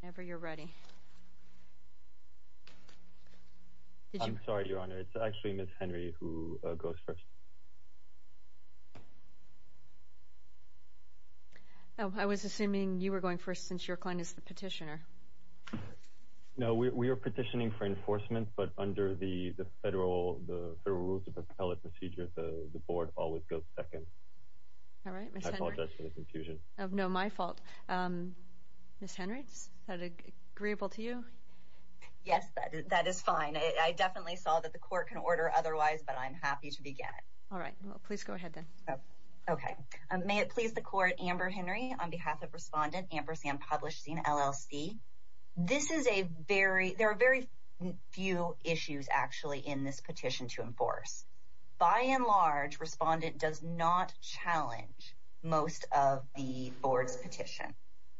Whenever you're ready. I'm sorry, Your Honor, it's actually Ms. Henry who goes first. Oh, I was assuming you were going first since your client is the petitioner. No, we are petitioning for enforcement, but under the federal rules of appellate procedure, the board always goes second. I apologize for the confusion. No, my fault. Ms. Henry, is that agreeable to you? Yes, that is fine. I definitely saw that the court can order otherwise, but I'm happy to begin. All right. Please go ahead, then. Okay. May it please the Court, Amber Henry, on behalf of Respondent Ampersand Publishing, LLC. There are very few issues, actually, in this petition to enforce. By and large, Respondent does not challenge most of the board's petition.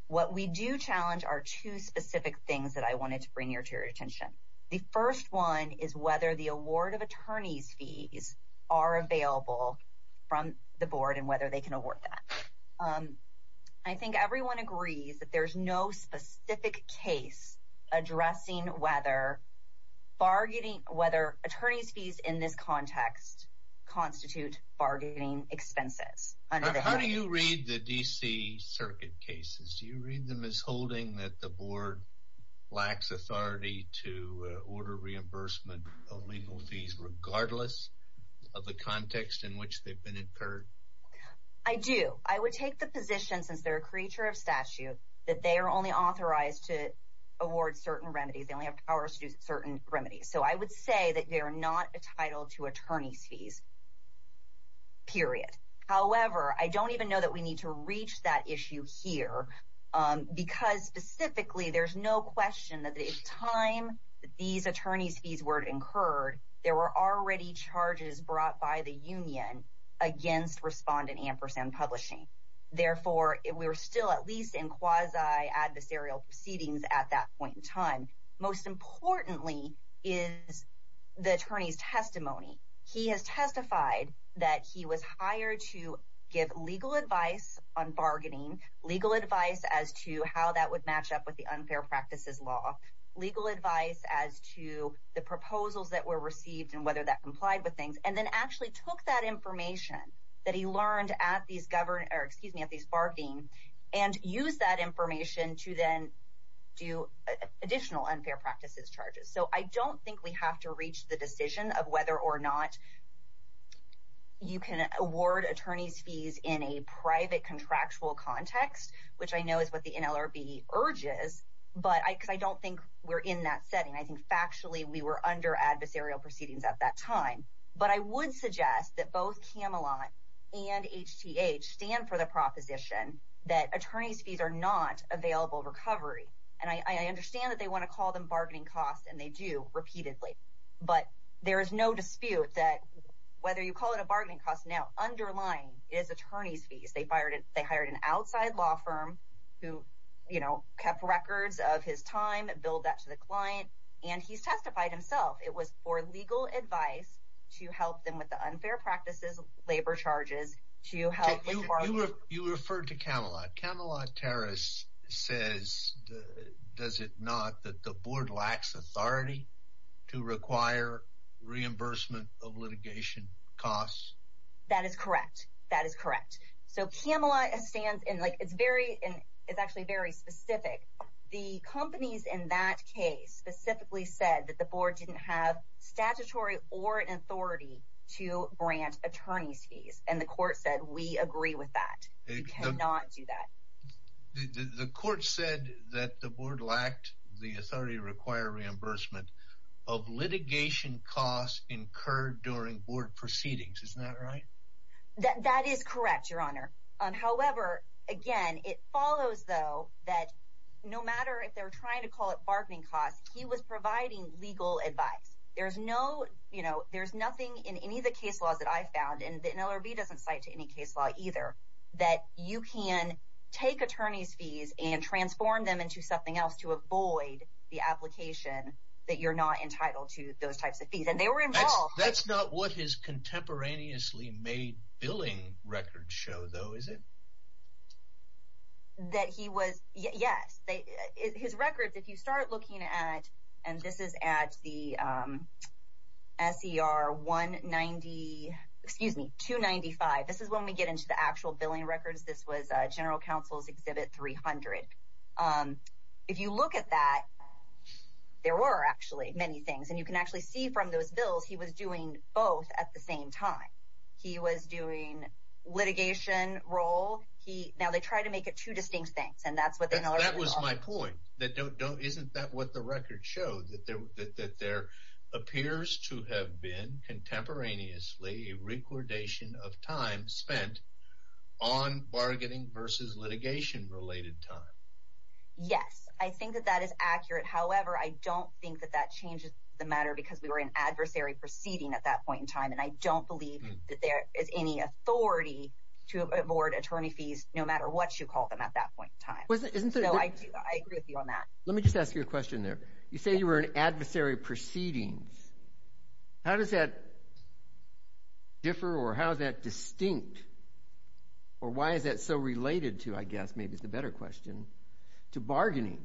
What we do challenge are two specific things that I wanted to bring to your attention. The first one is whether the award of attorney's fees are available from the board and whether they can award that. I think everyone agrees that there is no specific case addressing whether attorney's fees in this context constitute bargaining expenses. How do you read the D.C. Circuit cases? Do you read them as holding that the board lacks authority to order reimbursement of legal fees regardless of the context in which they've been incurred? I do. I would take the position, since they're a creature of statute, that they are only authorized to award certain remedies. They only have powers to do certain remedies. So I would say that they are not entitled to attorney's fees, period. However, I don't even know that we need to reach that issue here because, specifically, there's no question that at the time that these attorney's fees were incurred, there were already charges brought by the union against Respondent Ampersand Publishing. Therefore, we were still at least in quasi-adversarial proceedings at that point in time. Most importantly is the attorney's testimony. He has testified that he was hired to give legal advice on bargaining, legal advice as to how that would match up with the unfair practices law, legal advice as to the proposals that were received and whether that complied with things, and then actually took that information that he learned at these bargaining and used that information to then do additional unfair practices charges. So I don't think we have to reach the decision of whether or not you can award attorney's fees in a private contractual context, which I know is what the NLRB urges, because I don't think we're in that setting. I think factually we were under adversarial proceedings at that time. But I would suggest that both Camelot and HTH stand for the proposition that attorney's fees are not available recovery. And I understand that they want to call them bargaining costs, and they do, repeatedly. But there is no dispute that whether you call it a bargaining cost or not, underlying is attorney's fees. They hired an outside law firm who, you know, kept records of his time, billed that to the client, and he's testified himself. It was for legal advice to help them with the unfair practices labor charges to help with bargaining. You referred to Camelot. Camelot Terrace says, does it not, that the board lacks authority to require reimbursement of litigation costs? That is correct. That is correct. So Camelot stands in, like, it's very, it's actually very specific. The companies in that case specifically said that the board didn't have statutory or an authority to grant attorney's fees, and the court said, we agree with that. We cannot do that. The court said that the board lacked the authority to require reimbursement of litigation costs incurred during board proceedings. Isn't that right? That is correct, Your Honor. However, again, it follows, though, that no matter if they're trying to call it bargaining costs, he was providing legal advice. There's no, you know, there's nothing in any of the case laws that I've found, and LRB doesn't cite to any case law either, that you can take attorney's fees and transform them into something else to avoid the application that you're not entitled to those types of fees, and they were involved. That's not what his contemporaneously made billing records show, though, is it? That he was, yes. His records, if you start looking at, and this is at the SER 190, excuse me, 295. This is when we get into the actual billing records. This was General Counsel's Exhibit 300. If you look at that, there were actually many things, and you can actually see from those bills, he was doing both at the same time. He was doing litigation role. Now, they try to make it two distinct things, and that's what the LRB calls it. That was my point. Isn't that what the records show, that there appears to have been contemporaneously a recordation of time spent on bargaining versus litigation-related time? Yes, I think that that is accurate. However, I don't think that that changes the matter because we were in adversary proceeding at that point in time, and I don't believe that there is any authority to award attorney fees no matter what you call them at that point in time. I agree with you on that. Let me just ask you a question there. You say you were in adversary proceedings. How does that differ, or how is that distinct, or why is that so related to, I guess maybe it's a better question, to bargaining?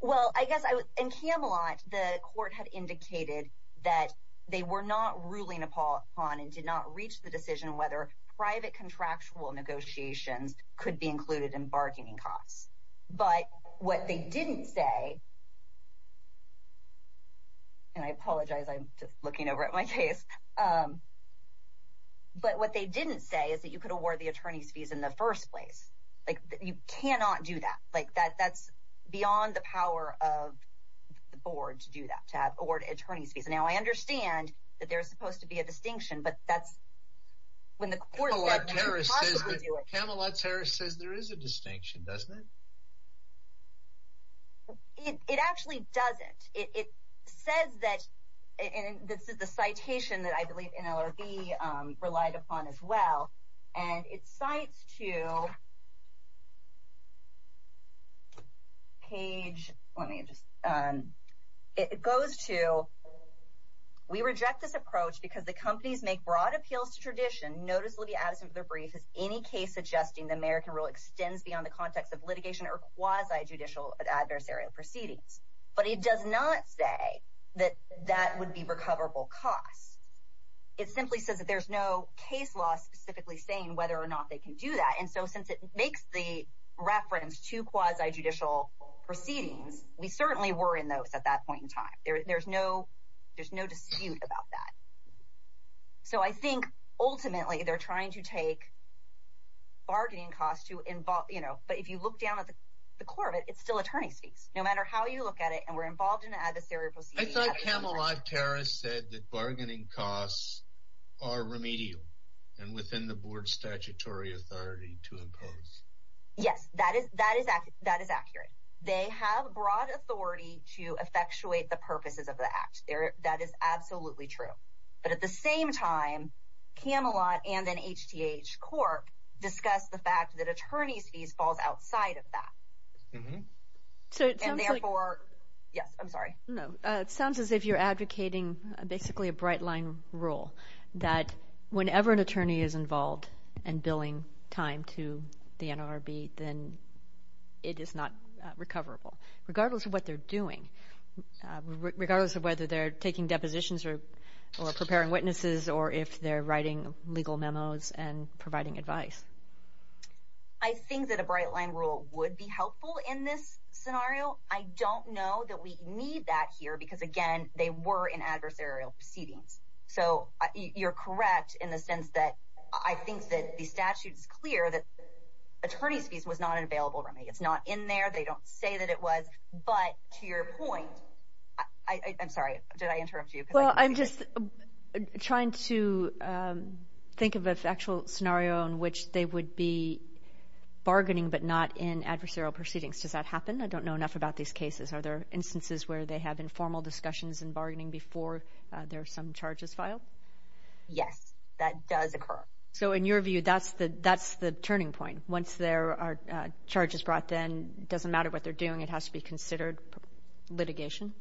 Well, I guess in Camelot, the court had indicated that they were not ruling upon and did not reach the decision whether private contractual negotiations could be included in bargaining costs. But what they didn't say, and I apologize, I'm just looking over at my case, but what they didn't say is that you could award the attorney's fees in the first place. You cannot do that. That's beyond the power of the board to do that, to award attorney's fees. Now, I understand that there's supposed to be a distinction, but that's when the court said you couldn't possibly do it. Camelot's Harris says there is a distinction, doesn't it? It actually doesn't. It says that, and this is the citation that I believe NLRB relied upon as well, and it cites to page, let me just, it goes to, we reject this approach because the companies make broad appeals to tradition, noticeably absent from their brief, as any case suggesting the American rule extends beyond the context of litigation or quasi-judicial adversarial proceedings. But it does not say that that would be recoverable costs. It simply says that there's no case law specifically saying whether or not they can do that. And so since it makes the reference to quasi-judicial proceedings, we certainly were in those at that point in time. There's no dispute about that. So I think ultimately they're trying to take bargaining costs to involve, but if you look down at the core of it, it's still attorney's fees. No matter how you look at it, and we're involved in an adversarial proceeding. I thought Camelot Harris said that bargaining costs are remedial and within the board's statutory authority to impose. Yes, that is accurate. They have broad authority to effectuate the purposes of the act. That is absolutely true. But at the same time, Camelot and then HTH Cork discuss the fact that attorney's fees falls outside of that. And therefore, yes, I'm sorry. No, it sounds as if you're advocating basically a bright line rule, that whenever an attorney is involved in billing time to the NLRB, then it is not recoverable, regardless of what they're doing, regardless of whether they're taking depositions or preparing witnesses or if they're writing legal memos and providing advice. I think that a bright line rule would be helpful in this scenario. I don't know that we need that here because, again, they were in adversarial proceedings. So you're correct in the sense that I think that the statute is clear that attorney's fees was not an available remedy. It's not in there. They don't say that it was. But to your point, I'm sorry, did I interrupt you? Well, I'm just trying to think of an actual scenario in which they would be bargaining but not in adversarial proceedings. Does that happen? I don't know enough about these cases. Are there instances where they have informal discussions and bargaining before there are some charges filed? Yes, that does occur. So in your view, that's the turning point. Once there are charges brought, then it doesn't matter what they're doing. It has to be considered litigation.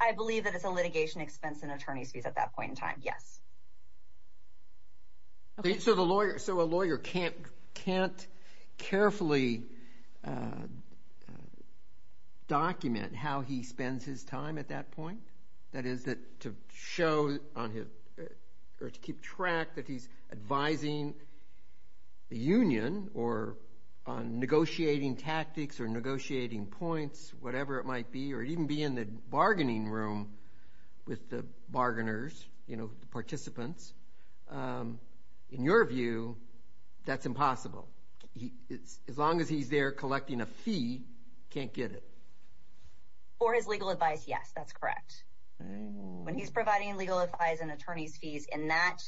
I believe that it's a litigation expense and attorney's fees at that point in time, yes. So a lawyer can't carefully document how he spends his time at that point? That is, to show or to keep track that he's advising the union or negotiating tactics or negotiating points, whatever it might be, or even be in the bargaining room with the bargainers, the participants. In your view, that's impossible. As long as he's there collecting a fee, he can't get it. For his legal advice, yes, that's correct. When he's providing legal advice and attorney's fees in that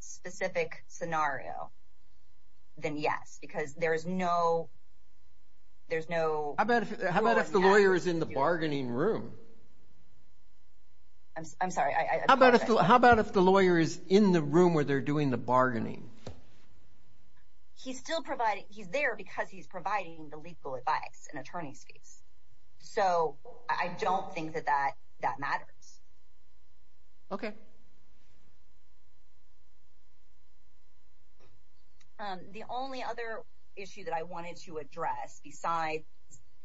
specific scenario, then yes. Because there's no… How about if the lawyer is in the bargaining room? I'm sorry. How about if the lawyer is in the room where they're doing the bargaining? He's there because he's providing the legal advice and attorney's fees. So I don't think that that matters. Okay. The only other issue that I wanted to address besides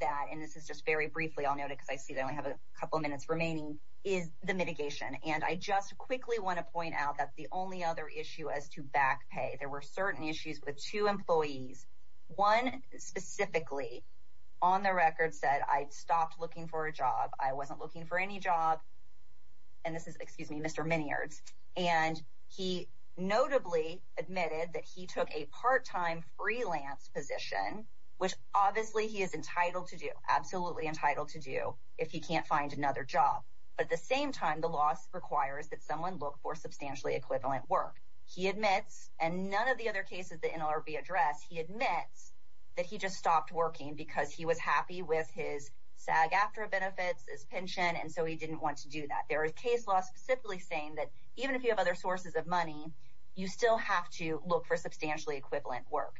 that, and this is just very briefly, I'll note it because I see I only have a couple of minutes remaining, is the mitigation. And I just quickly want to point out that the only other issue is to back pay. There were certain issues with two employees, one specifically on the record said, I stopped looking for a job. I wasn't looking for any job. And this is Mr. Miniards. And he notably admitted that he took a part-time freelance position, which obviously he is entitled to do, absolutely entitled to do, if he can't find another job. But at the same time, the law requires that someone look for substantially equivalent work. He admits, and none of the other cases that NLRB addressed, he admits that he just stopped working because he was happy with his SAG-AFTRA benefits, his pension, and so he didn't want to do that. There are case laws specifically saying that even if you have other sources of money, you still have to look for substantially equivalent work.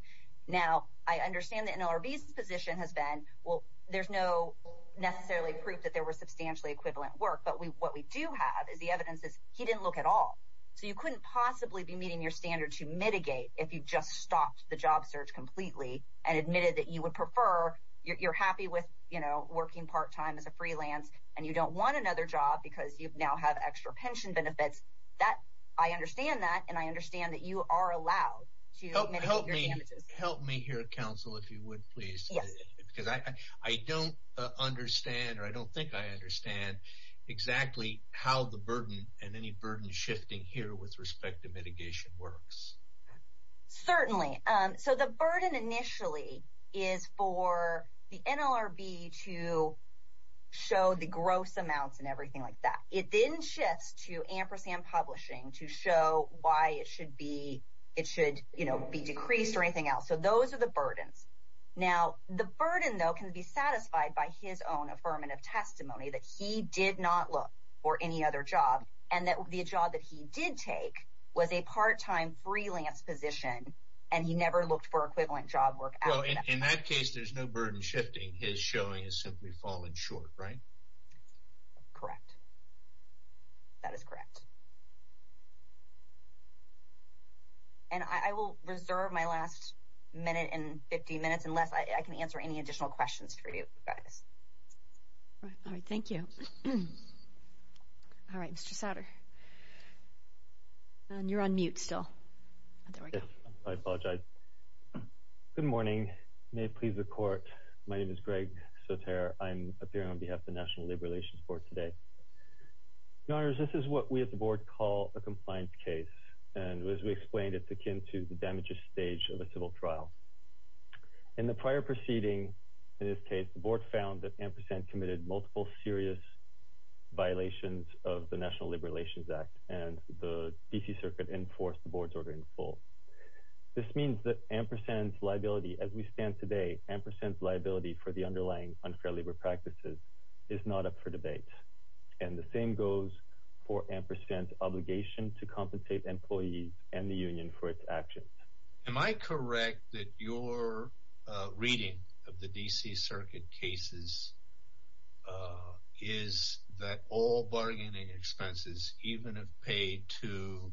Now, I understand that NLRB's position has been, well, there's no necessarily proof that there was substantially equivalent work, but what we do have is the evidence is he didn't look at all. So you couldn't possibly be meeting your standard to mitigate if you just stopped the job search completely and admitted that you would prefer, you're happy with working part-time as a freelance, and you don't want another job because you now have extra pension benefits. I understand that, and I understand that you are allowed to mitigate your damages. Help me here, counsel, if you would, please, because I don't understand or I don't think I understand exactly how the burden and any burden shifting here with respect to mitigation works. Certainly. So the burden initially is for the NLRB to show the gross amounts and everything like that. It then shifts to Ampersand Publishing to show why it should be decreased or anything else. So those are the burdens. Now, the burden, though, can be satisfied by his own affirmative testimony that he did not look for any other job and that the job that he did take was a part-time freelance position and he never looked for equivalent job work. Well, in that case, there's no burden shifting. His showing has simply fallen short, right? Correct. That is correct. And I will reserve my last minute and 50 minutes unless I can answer any additional questions for you guys. All right, thank you. All right, Mr. Sauter. You're on mute still. Yes, I apologize. Good morning. May it please the Court. My name is Greg Sauter. I'm appearing on behalf of the National Labor Relations Board today. Your Honors, this is what we at the Board call a compliance case, and as we explained, it's akin to the damages stage of a civil trial. In the prior proceeding, in this case, the Board found that Ampersand committed multiple serious violations of the National Labor Relations Act, and the D.C. Circuit enforced the Board's order in full. This means that Ampersand's liability, as we stand today, Ampersand's liability for the underlying unfair labor practices is not up for debate, and the same goes for Ampersand's obligation to compensate employees and the union for its actions. Am I correct that your reading of the D.C. Circuit cases is that all bargaining expenses, even if paid to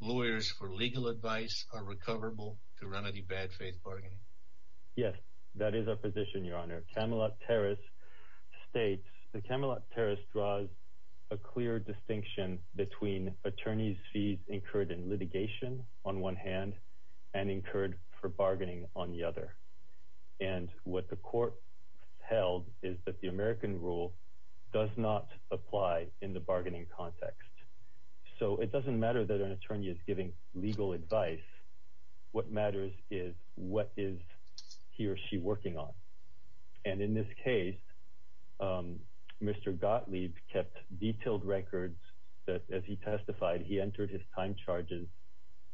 lawyers for legal advice, are recoverable to remedy bad faith bargaining? Yes, that is our position, Your Honor. Camelot Terrace states, the Camelot Terrace draws a clear distinction between attorneys' fees incurred in litigation, on one hand, and incurred for bargaining on the other. And what the court held is that the American rule does not apply in the bargaining context. So it doesn't matter that an attorney is giving legal advice. What matters is what is he or she working on. And in this case, Mr. Gottlieb kept detailed records that, as he testified, he entered his time charges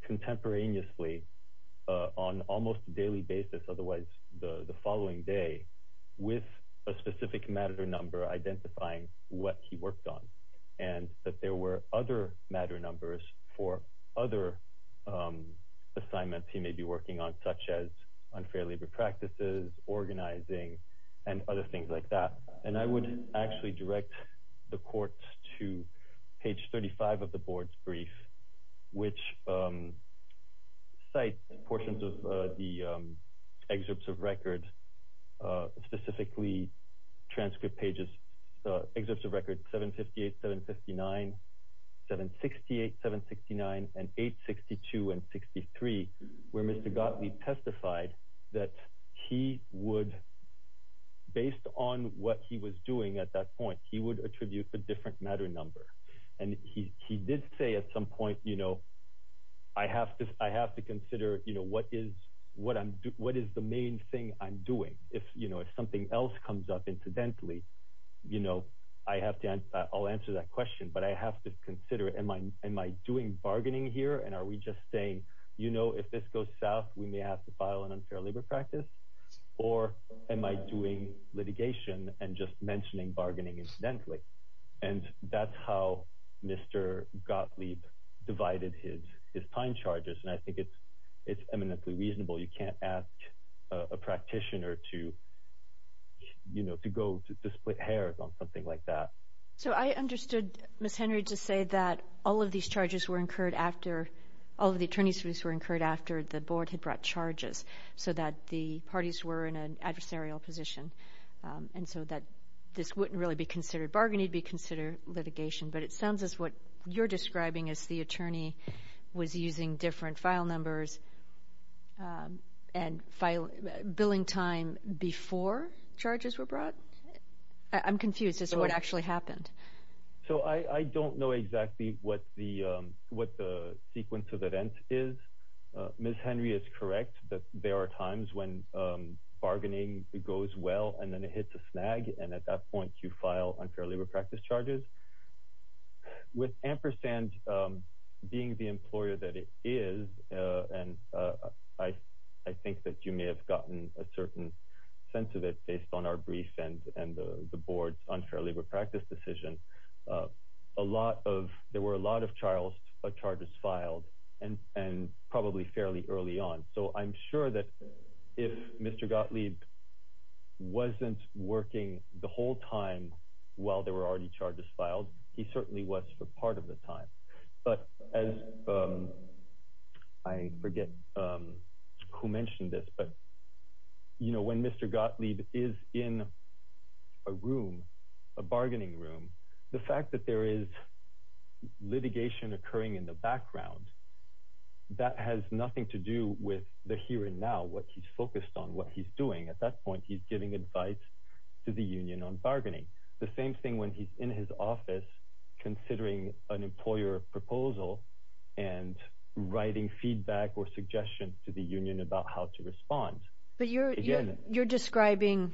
contemporaneously on almost a daily basis, otherwise the following day, with a specific matter number identifying what he worked on and that there were other matter numbers for other assignments he may be working on, such as unfair labor practices, organizing, and other things like that. And I would actually direct the court to page 35 of the board's brief, which cites portions of the excerpts of record, specifically transcript pages, excerpts of record 758, 759, 768, 769, and 862 and 63, where Mr. Gottlieb testified that he would, based on what he was doing at that point, he would attribute a different matter number. And he did say at some point, you know, I have to consider what is the main thing I'm doing. If something else comes up incidentally, I'll answer that question, but I have to consider, am I doing bargaining here, and are we just saying, you know, if this goes south, we may have to file an unfair labor practice? Or am I doing litigation and just mentioning bargaining incidentally? And that's how Mr. Gottlieb divided his time charges, and I think it's eminently reasonable. You can't ask a practitioner to, you know, to go to split hairs on something like that. So I understood, Ms. Henry, to say that all of these charges were incurred after, all of the attorney's fees were incurred after the board had brought charges, so that the parties were in an adversarial position, and so that this wouldn't really be considered bargaining, it would be considered litigation. But it sounds as what you're describing as the attorney was using different file numbers and billing time before charges were brought? I'm confused as to what actually happened. So I don't know exactly what the sequence of events is. Ms. Henry is correct that there are times when bargaining goes well and then it hits a snag, and at that point you file unfair labor practice charges. With Ampersand being the employer that it is, and I think that you may have gotten a certain sense of it based on our brief and the board's unfair labor practice decision, a lot of, there were a lot of charges filed, and probably fairly early on. So I'm sure that if Mr. Gottlieb wasn't working the whole time while there were already charges filed, he certainly was for part of the time. But as, I forget who mentioned this, but when Mr. Gottlieb is in a room, a bargaining room, the fact that there is litigation occurring in the background, that has nothing to do with the here and now, what he's focused on, what he's doing. At that point, he's giving advice to the union on bargaining. The same thing when he's in his office considering an employer proposal and writing feedback or suggestions to the union about how to respond. But you're describing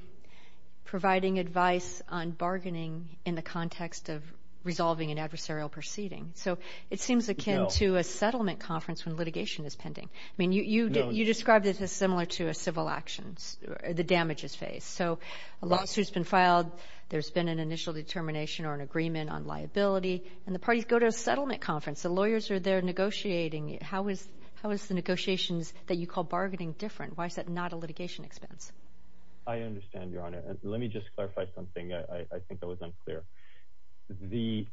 providing advice on bargaining in the context of resolving an adversarial proceeding. So it seems akin to a settlement conference when litigation is pending. I mean, you described it as similar to a civil actions, the damages phase. So a lawsuit's been filed. There's been an initial determination or an agreement on liability, and the parties go to a settlement conference. The lawyers are there negotiating. How is the negotiations that you call bargaining different? Why is that not a litigation expense? I understand, Your Honor. Let me just clarify something. I think that was unclear. The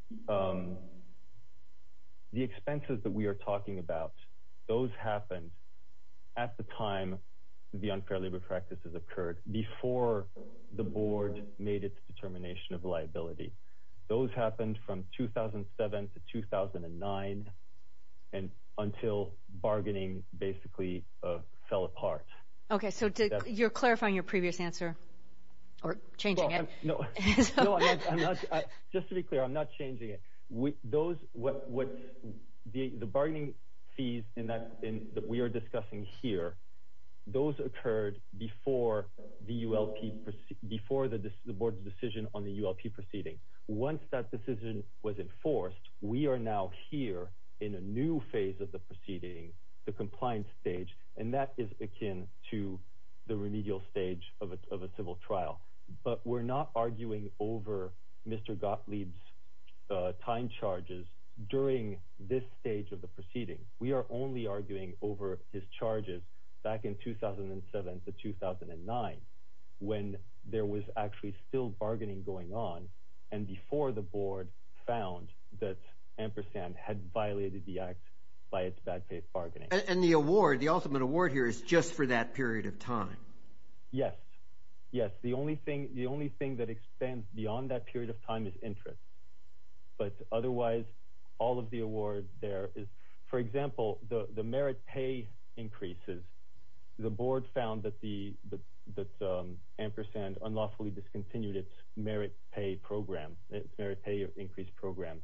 expenses that we are talking about, those happened at the time the unfair labor practices occurred, before the board made its determination of liability. Those happened from 2007 to 2009 until bargaining basically fell apart. Okay, so you're clarifying your previous answer or changing it. No, I'm not. Just to be clear, I'm not changing it. The bargaining fees that we are discussing here, those occurred before the board's decision on the ULP proceeding. Once that decision was enforced, we are now here in a new phase of the proceeding, the compliance stage, and that is akin to the remedial stage of a civil trial. But we're not arguing over Mr. Gottlieb's time charges during this stage of the proceeding. We are only arguing over his charges back in 2007 to 2009 when there was actually still bargaining going on and before the board found that Ampersand had violated the act by its bad faith bargaining. And the award, the ultimate award here, is just for that period of time? Yes, yes. The only thing that extends beyond that period of time is interest, but otherwise all of the award there is. For example, the merit pay increases, the board found that Ampersand unlawfully discontinued its merit pay program, its merit pay increase program,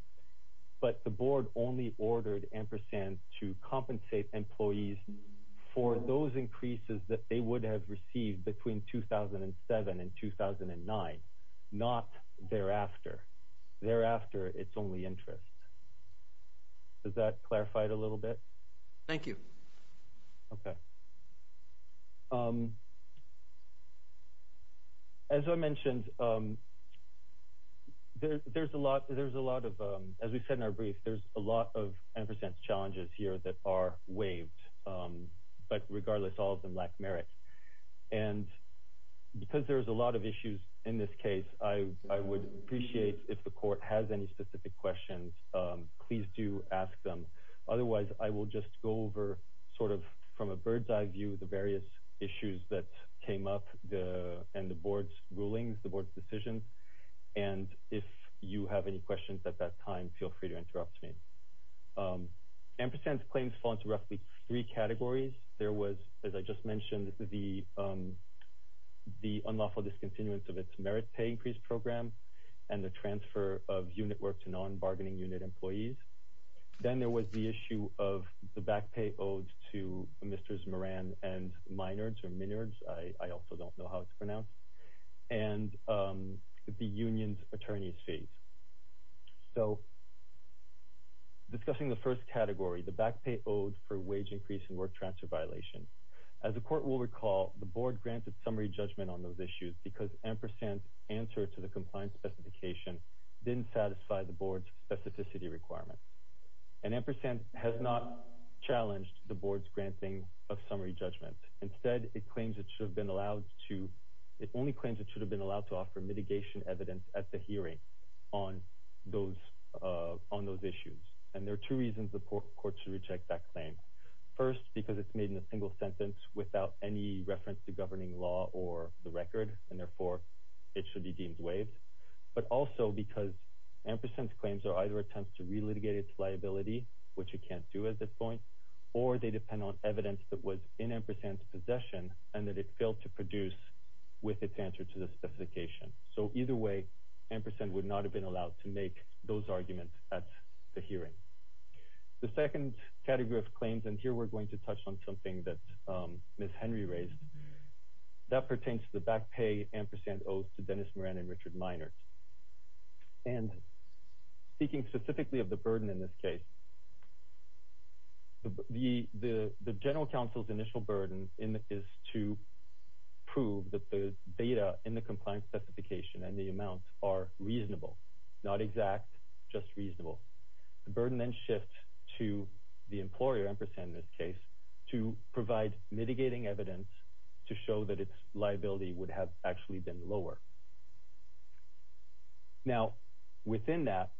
but the board only ordered Ampersand to compensate employees for those increases that they would have received between 2007 and 2009, not thereafter. Thereafter, it's only interest. Does that clarify it a little bit? Thank you. Okay. As I mentioned, there's a lot of, as we said in our brief, there's a lot of Ampersand's challenges here that are waived, but regardless, all of them lack merit. And because there's a lot of issues in this case, I would appreciate if the court has any specific questions, please do ask them. Otherwise, I will just go over sort of from a bird's eye view the various issues that came up and the board's rulings, the board's decisions. And if you have any questions at that time, feel free to interrupt me. Ampersand's claims fall into roughly three categories. There was, as I just mentioned, the unlawful discontinuance of its merit pay increase program and the transfer of unit work to non-bargaining unit employees. Then there was the issue of the back pay owed to Mr. Moran and Minards, I also don't know how it's pronounced. And the union's attorney's fees. So discussing the first category, the back pay owed for wage increase and work transfer violation. As the court will recall, the board granted summary judgment on those issues because Ampersand's answer to the compliance specification didn't satisfy the board's specificity requirements. And Ampersand has not challenged the board's granting of summary judgment. Instead, it claims it should have been allowed to, it only claims it should have been allowed to offer mitigation evidence at the hearing on those issues. And there are two reasons the court should reject that claim. First, because it's made in a single sentence without any reference to governing law or the record, and therefore it should be deemed waived. But also because Ampersand's claims are either attempts to relitigate its liability, which it can't do at this point, or they depend on evidence that was in Ampersand's possession and that it failed to produce with its answer to the specification. So either way, Ampersand would not have been allowed to make those arguments at the hearing. The second category of claims, and here we're going to touch on something that Ms. Henry raised, that pertains to the back pay Ampersand owes to Dennis Moran and Richard Minard. And speaking specifically of the burden in this case, the general counsel's initial burden is to prove that the data in the compliance specification and the amounts are reasonable, not exact, just reasonable. The burden then shifts to the employer, Ampersand in this case, to provide mitigating evidence to show that its liability would have actually been lower. Now, within that,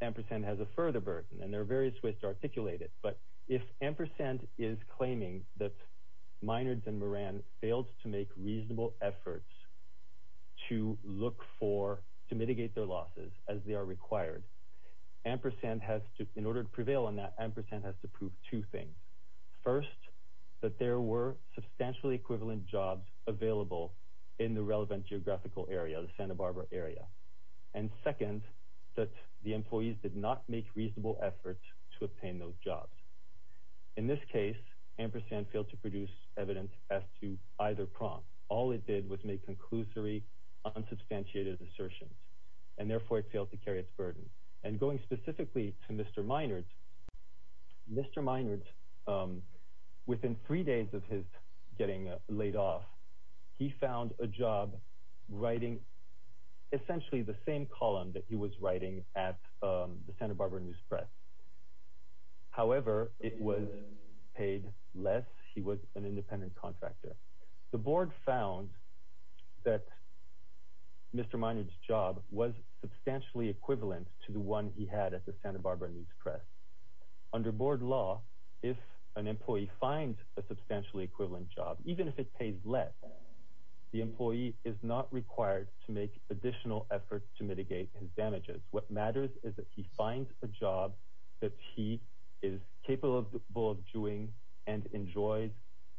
Ampersand has a further burden, and there are various ways to articulate it, but if Ampersand is claiming that Minards and Moran failed to make reasonable efforts to look for, to mitigate their losses as they are required, Ampersand has to, in order to prevail on that, Ampersand has to prove two things. First, that there were substantially equivalent jobs available in the relevant geographical area, the Santa Barbara area. And second, that the employees did not make reasonable efforts to obtain those jobs. In this case, Ampersand failed to produce evidence as to either prompt. All it did was make conclusory, unsubstantiated assertions, and therefore it failed to carry its burden. And going specifically to Mr. Minard, Mr. Minard, within three days of his getting laid off, he found a job writing essentially the same column that he was writing at the Santa Barbara News Press. However, it was paid less. He was an independent contractor. The board found that Mr. Minard's job was substantially equivalent to the one he had at the Santa Barbara News Press. Under board law, if an employee finds a substantially equivalent job, even if it pays less, the employee is not required to make additional efforts to mitigate his damages. What matters is that he finds a job that he is capable of doing and enjoys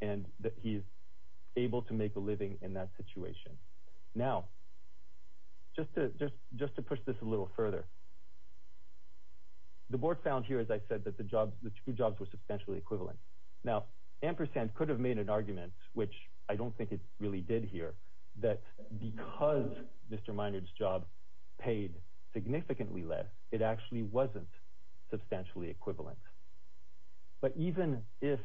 and that he is able to make a living in that situation. Now, just to push this a little further, the board found here, as I said, that the two jobs were substantially equivalent. Now, Ampersand could have made an argument, which I don't think it really did here, that because Mr. Minard's job paid significantly less, it actually wasn't substantially equivalent. But even if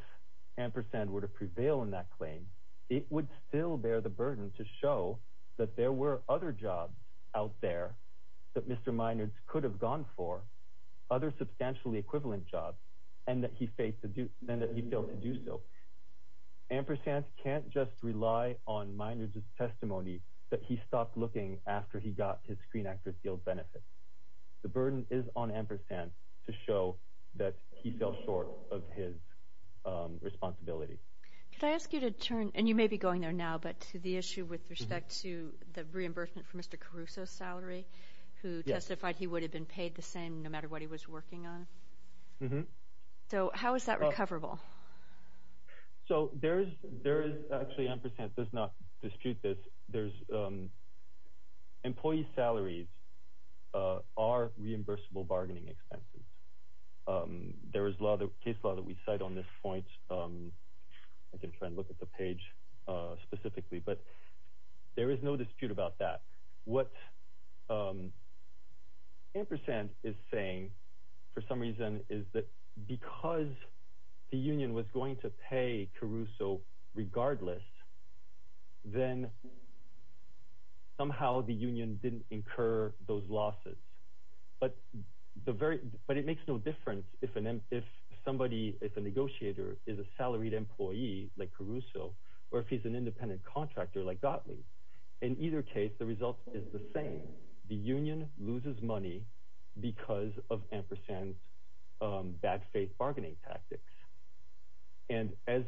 Ampersand were to prevail in that claim, it would still bear the burden to show that there were other jobs out there that Mr. Minard could have gone for, other substantially equivalent jobs, and that he failed to do so. Ampersand can't just rely on Minard's testimony that he stopped looking after he got his Screen Actors Guild benefit. The burden is on Ampersand to show that he fell short of his responsibility. Could I ask you to turn, and you may be going there now, but to the issue with respect to the reimbursement for Mr. Caruso's salary, who testified he would have been paid the same no matter what he was working on? Mm-hmm. So how is that recoverable? Actually, Ampersand does not dispute this. Employee salaries are reimbursable bargaining expenses. There is a case law that we cite on this point. I can try and look at the page specifically, but there is no dispute about that. What Ampersand is saying, for some reason, is that because the union was going to pay Caruso regardless, then somehow the union didn't incur those losses. But it makes no difference if a negotiator is a salaried employee like Caruso or if he's an independent contractor like Gottlieb. In either case, the result is the same. The union loses money because of Ampersand's bad faith bargaining tactics. And as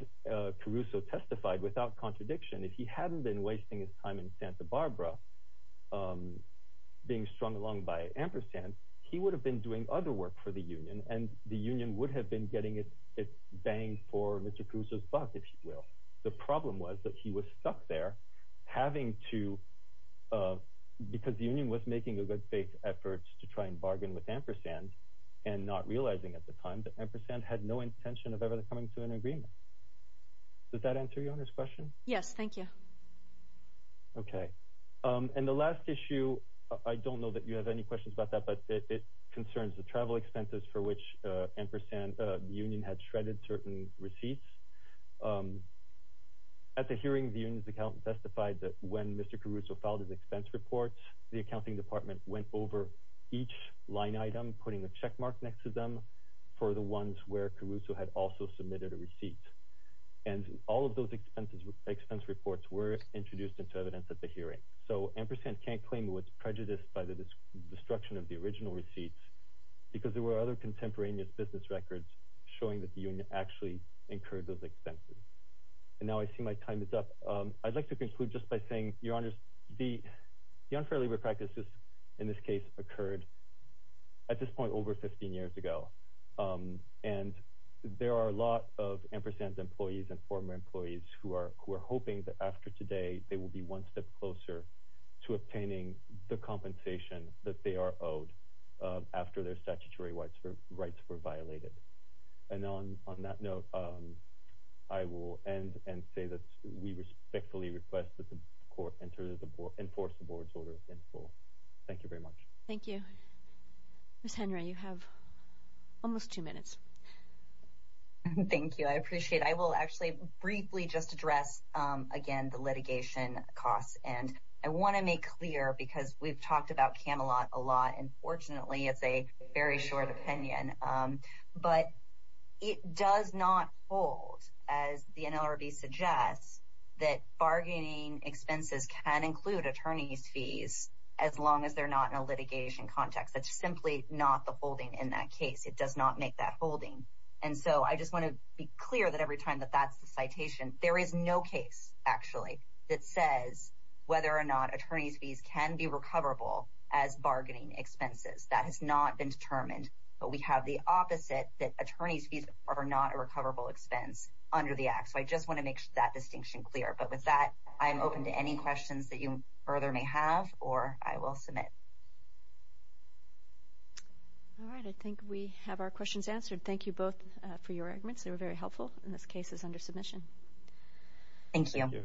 Caruso testified without contradiction, if he hadn't been wasting his time in Santa Barbara being strung along by Ampersand, he would have been doing other work for the union, and the union would have been getting its bang for Mr. Caruso's buck, if you will. The problem was that he was stuck there, because the union was making a good faith effort to try and bargain with Ampersand and not realizing at the time that Ampersand had no intention of ever coming to an agreement. Does that answer your Honour's question? Yes, thank you. Okay. And the last issue, I don't know that you have any questions about that, but it concerns the travel expenses for which Ampersand, the union, had shredded certain receipts. At the hearing, the union's accountant testified that when Mr. Caruso filed his expense report, the accounting department went over each line item, putting a checkmark next to them, for the ones where Caruso had also submitted a receipt. And all of those expense reports were introduced into evidence at the hearing. So Ampersand can't claim it was prejudiced by the destruction of the original receipts, because there were other contemporaneous business records showing that the union actually incurred those expenses. And now I see my time is up. I'd like to conclude just by saying, Your Honours, the unfair labor practices in this case occurred at this point over 15 years ago, and there are a lot of Ampersand's employees and former employees who are hoping that after today, they will be one step closer to obtaining the compensation that they are owed after their statutory rights were violated. And on that note, I will end and say that we respectfully request that the court enforce the board's order in full. Thank you very much. Thank you. Ms. Henry, you have almost two minutes. Thank you. I appreciate it. I will actually briefly just address, again, the litigation costs. And I want to make clear, because we've talked about Camelot a lot, and fortunately it's a very short opinion, but it does not hold, as the NLRB suggests, that bargaining expenses can include attorney's fees, as long as they're not in a litigation context. That's simply not the holding in that case. It does not make that holding. And so I just want to be clear that every time that that's the citation, there is no case, actually, that says whether or not attorney's fees can be recoverable as bargaining expenses. That has not been determined. But we have the opposite, that attorney's fees are not a recoverable expense under the Act. So I just want to make that distinction clear. But with that, I am open to any questions that you further may have, or I will submit. All right. I think we have our questions answered. Thank you both for your arguments. They were very helpful, and this case is under submission. Thank you.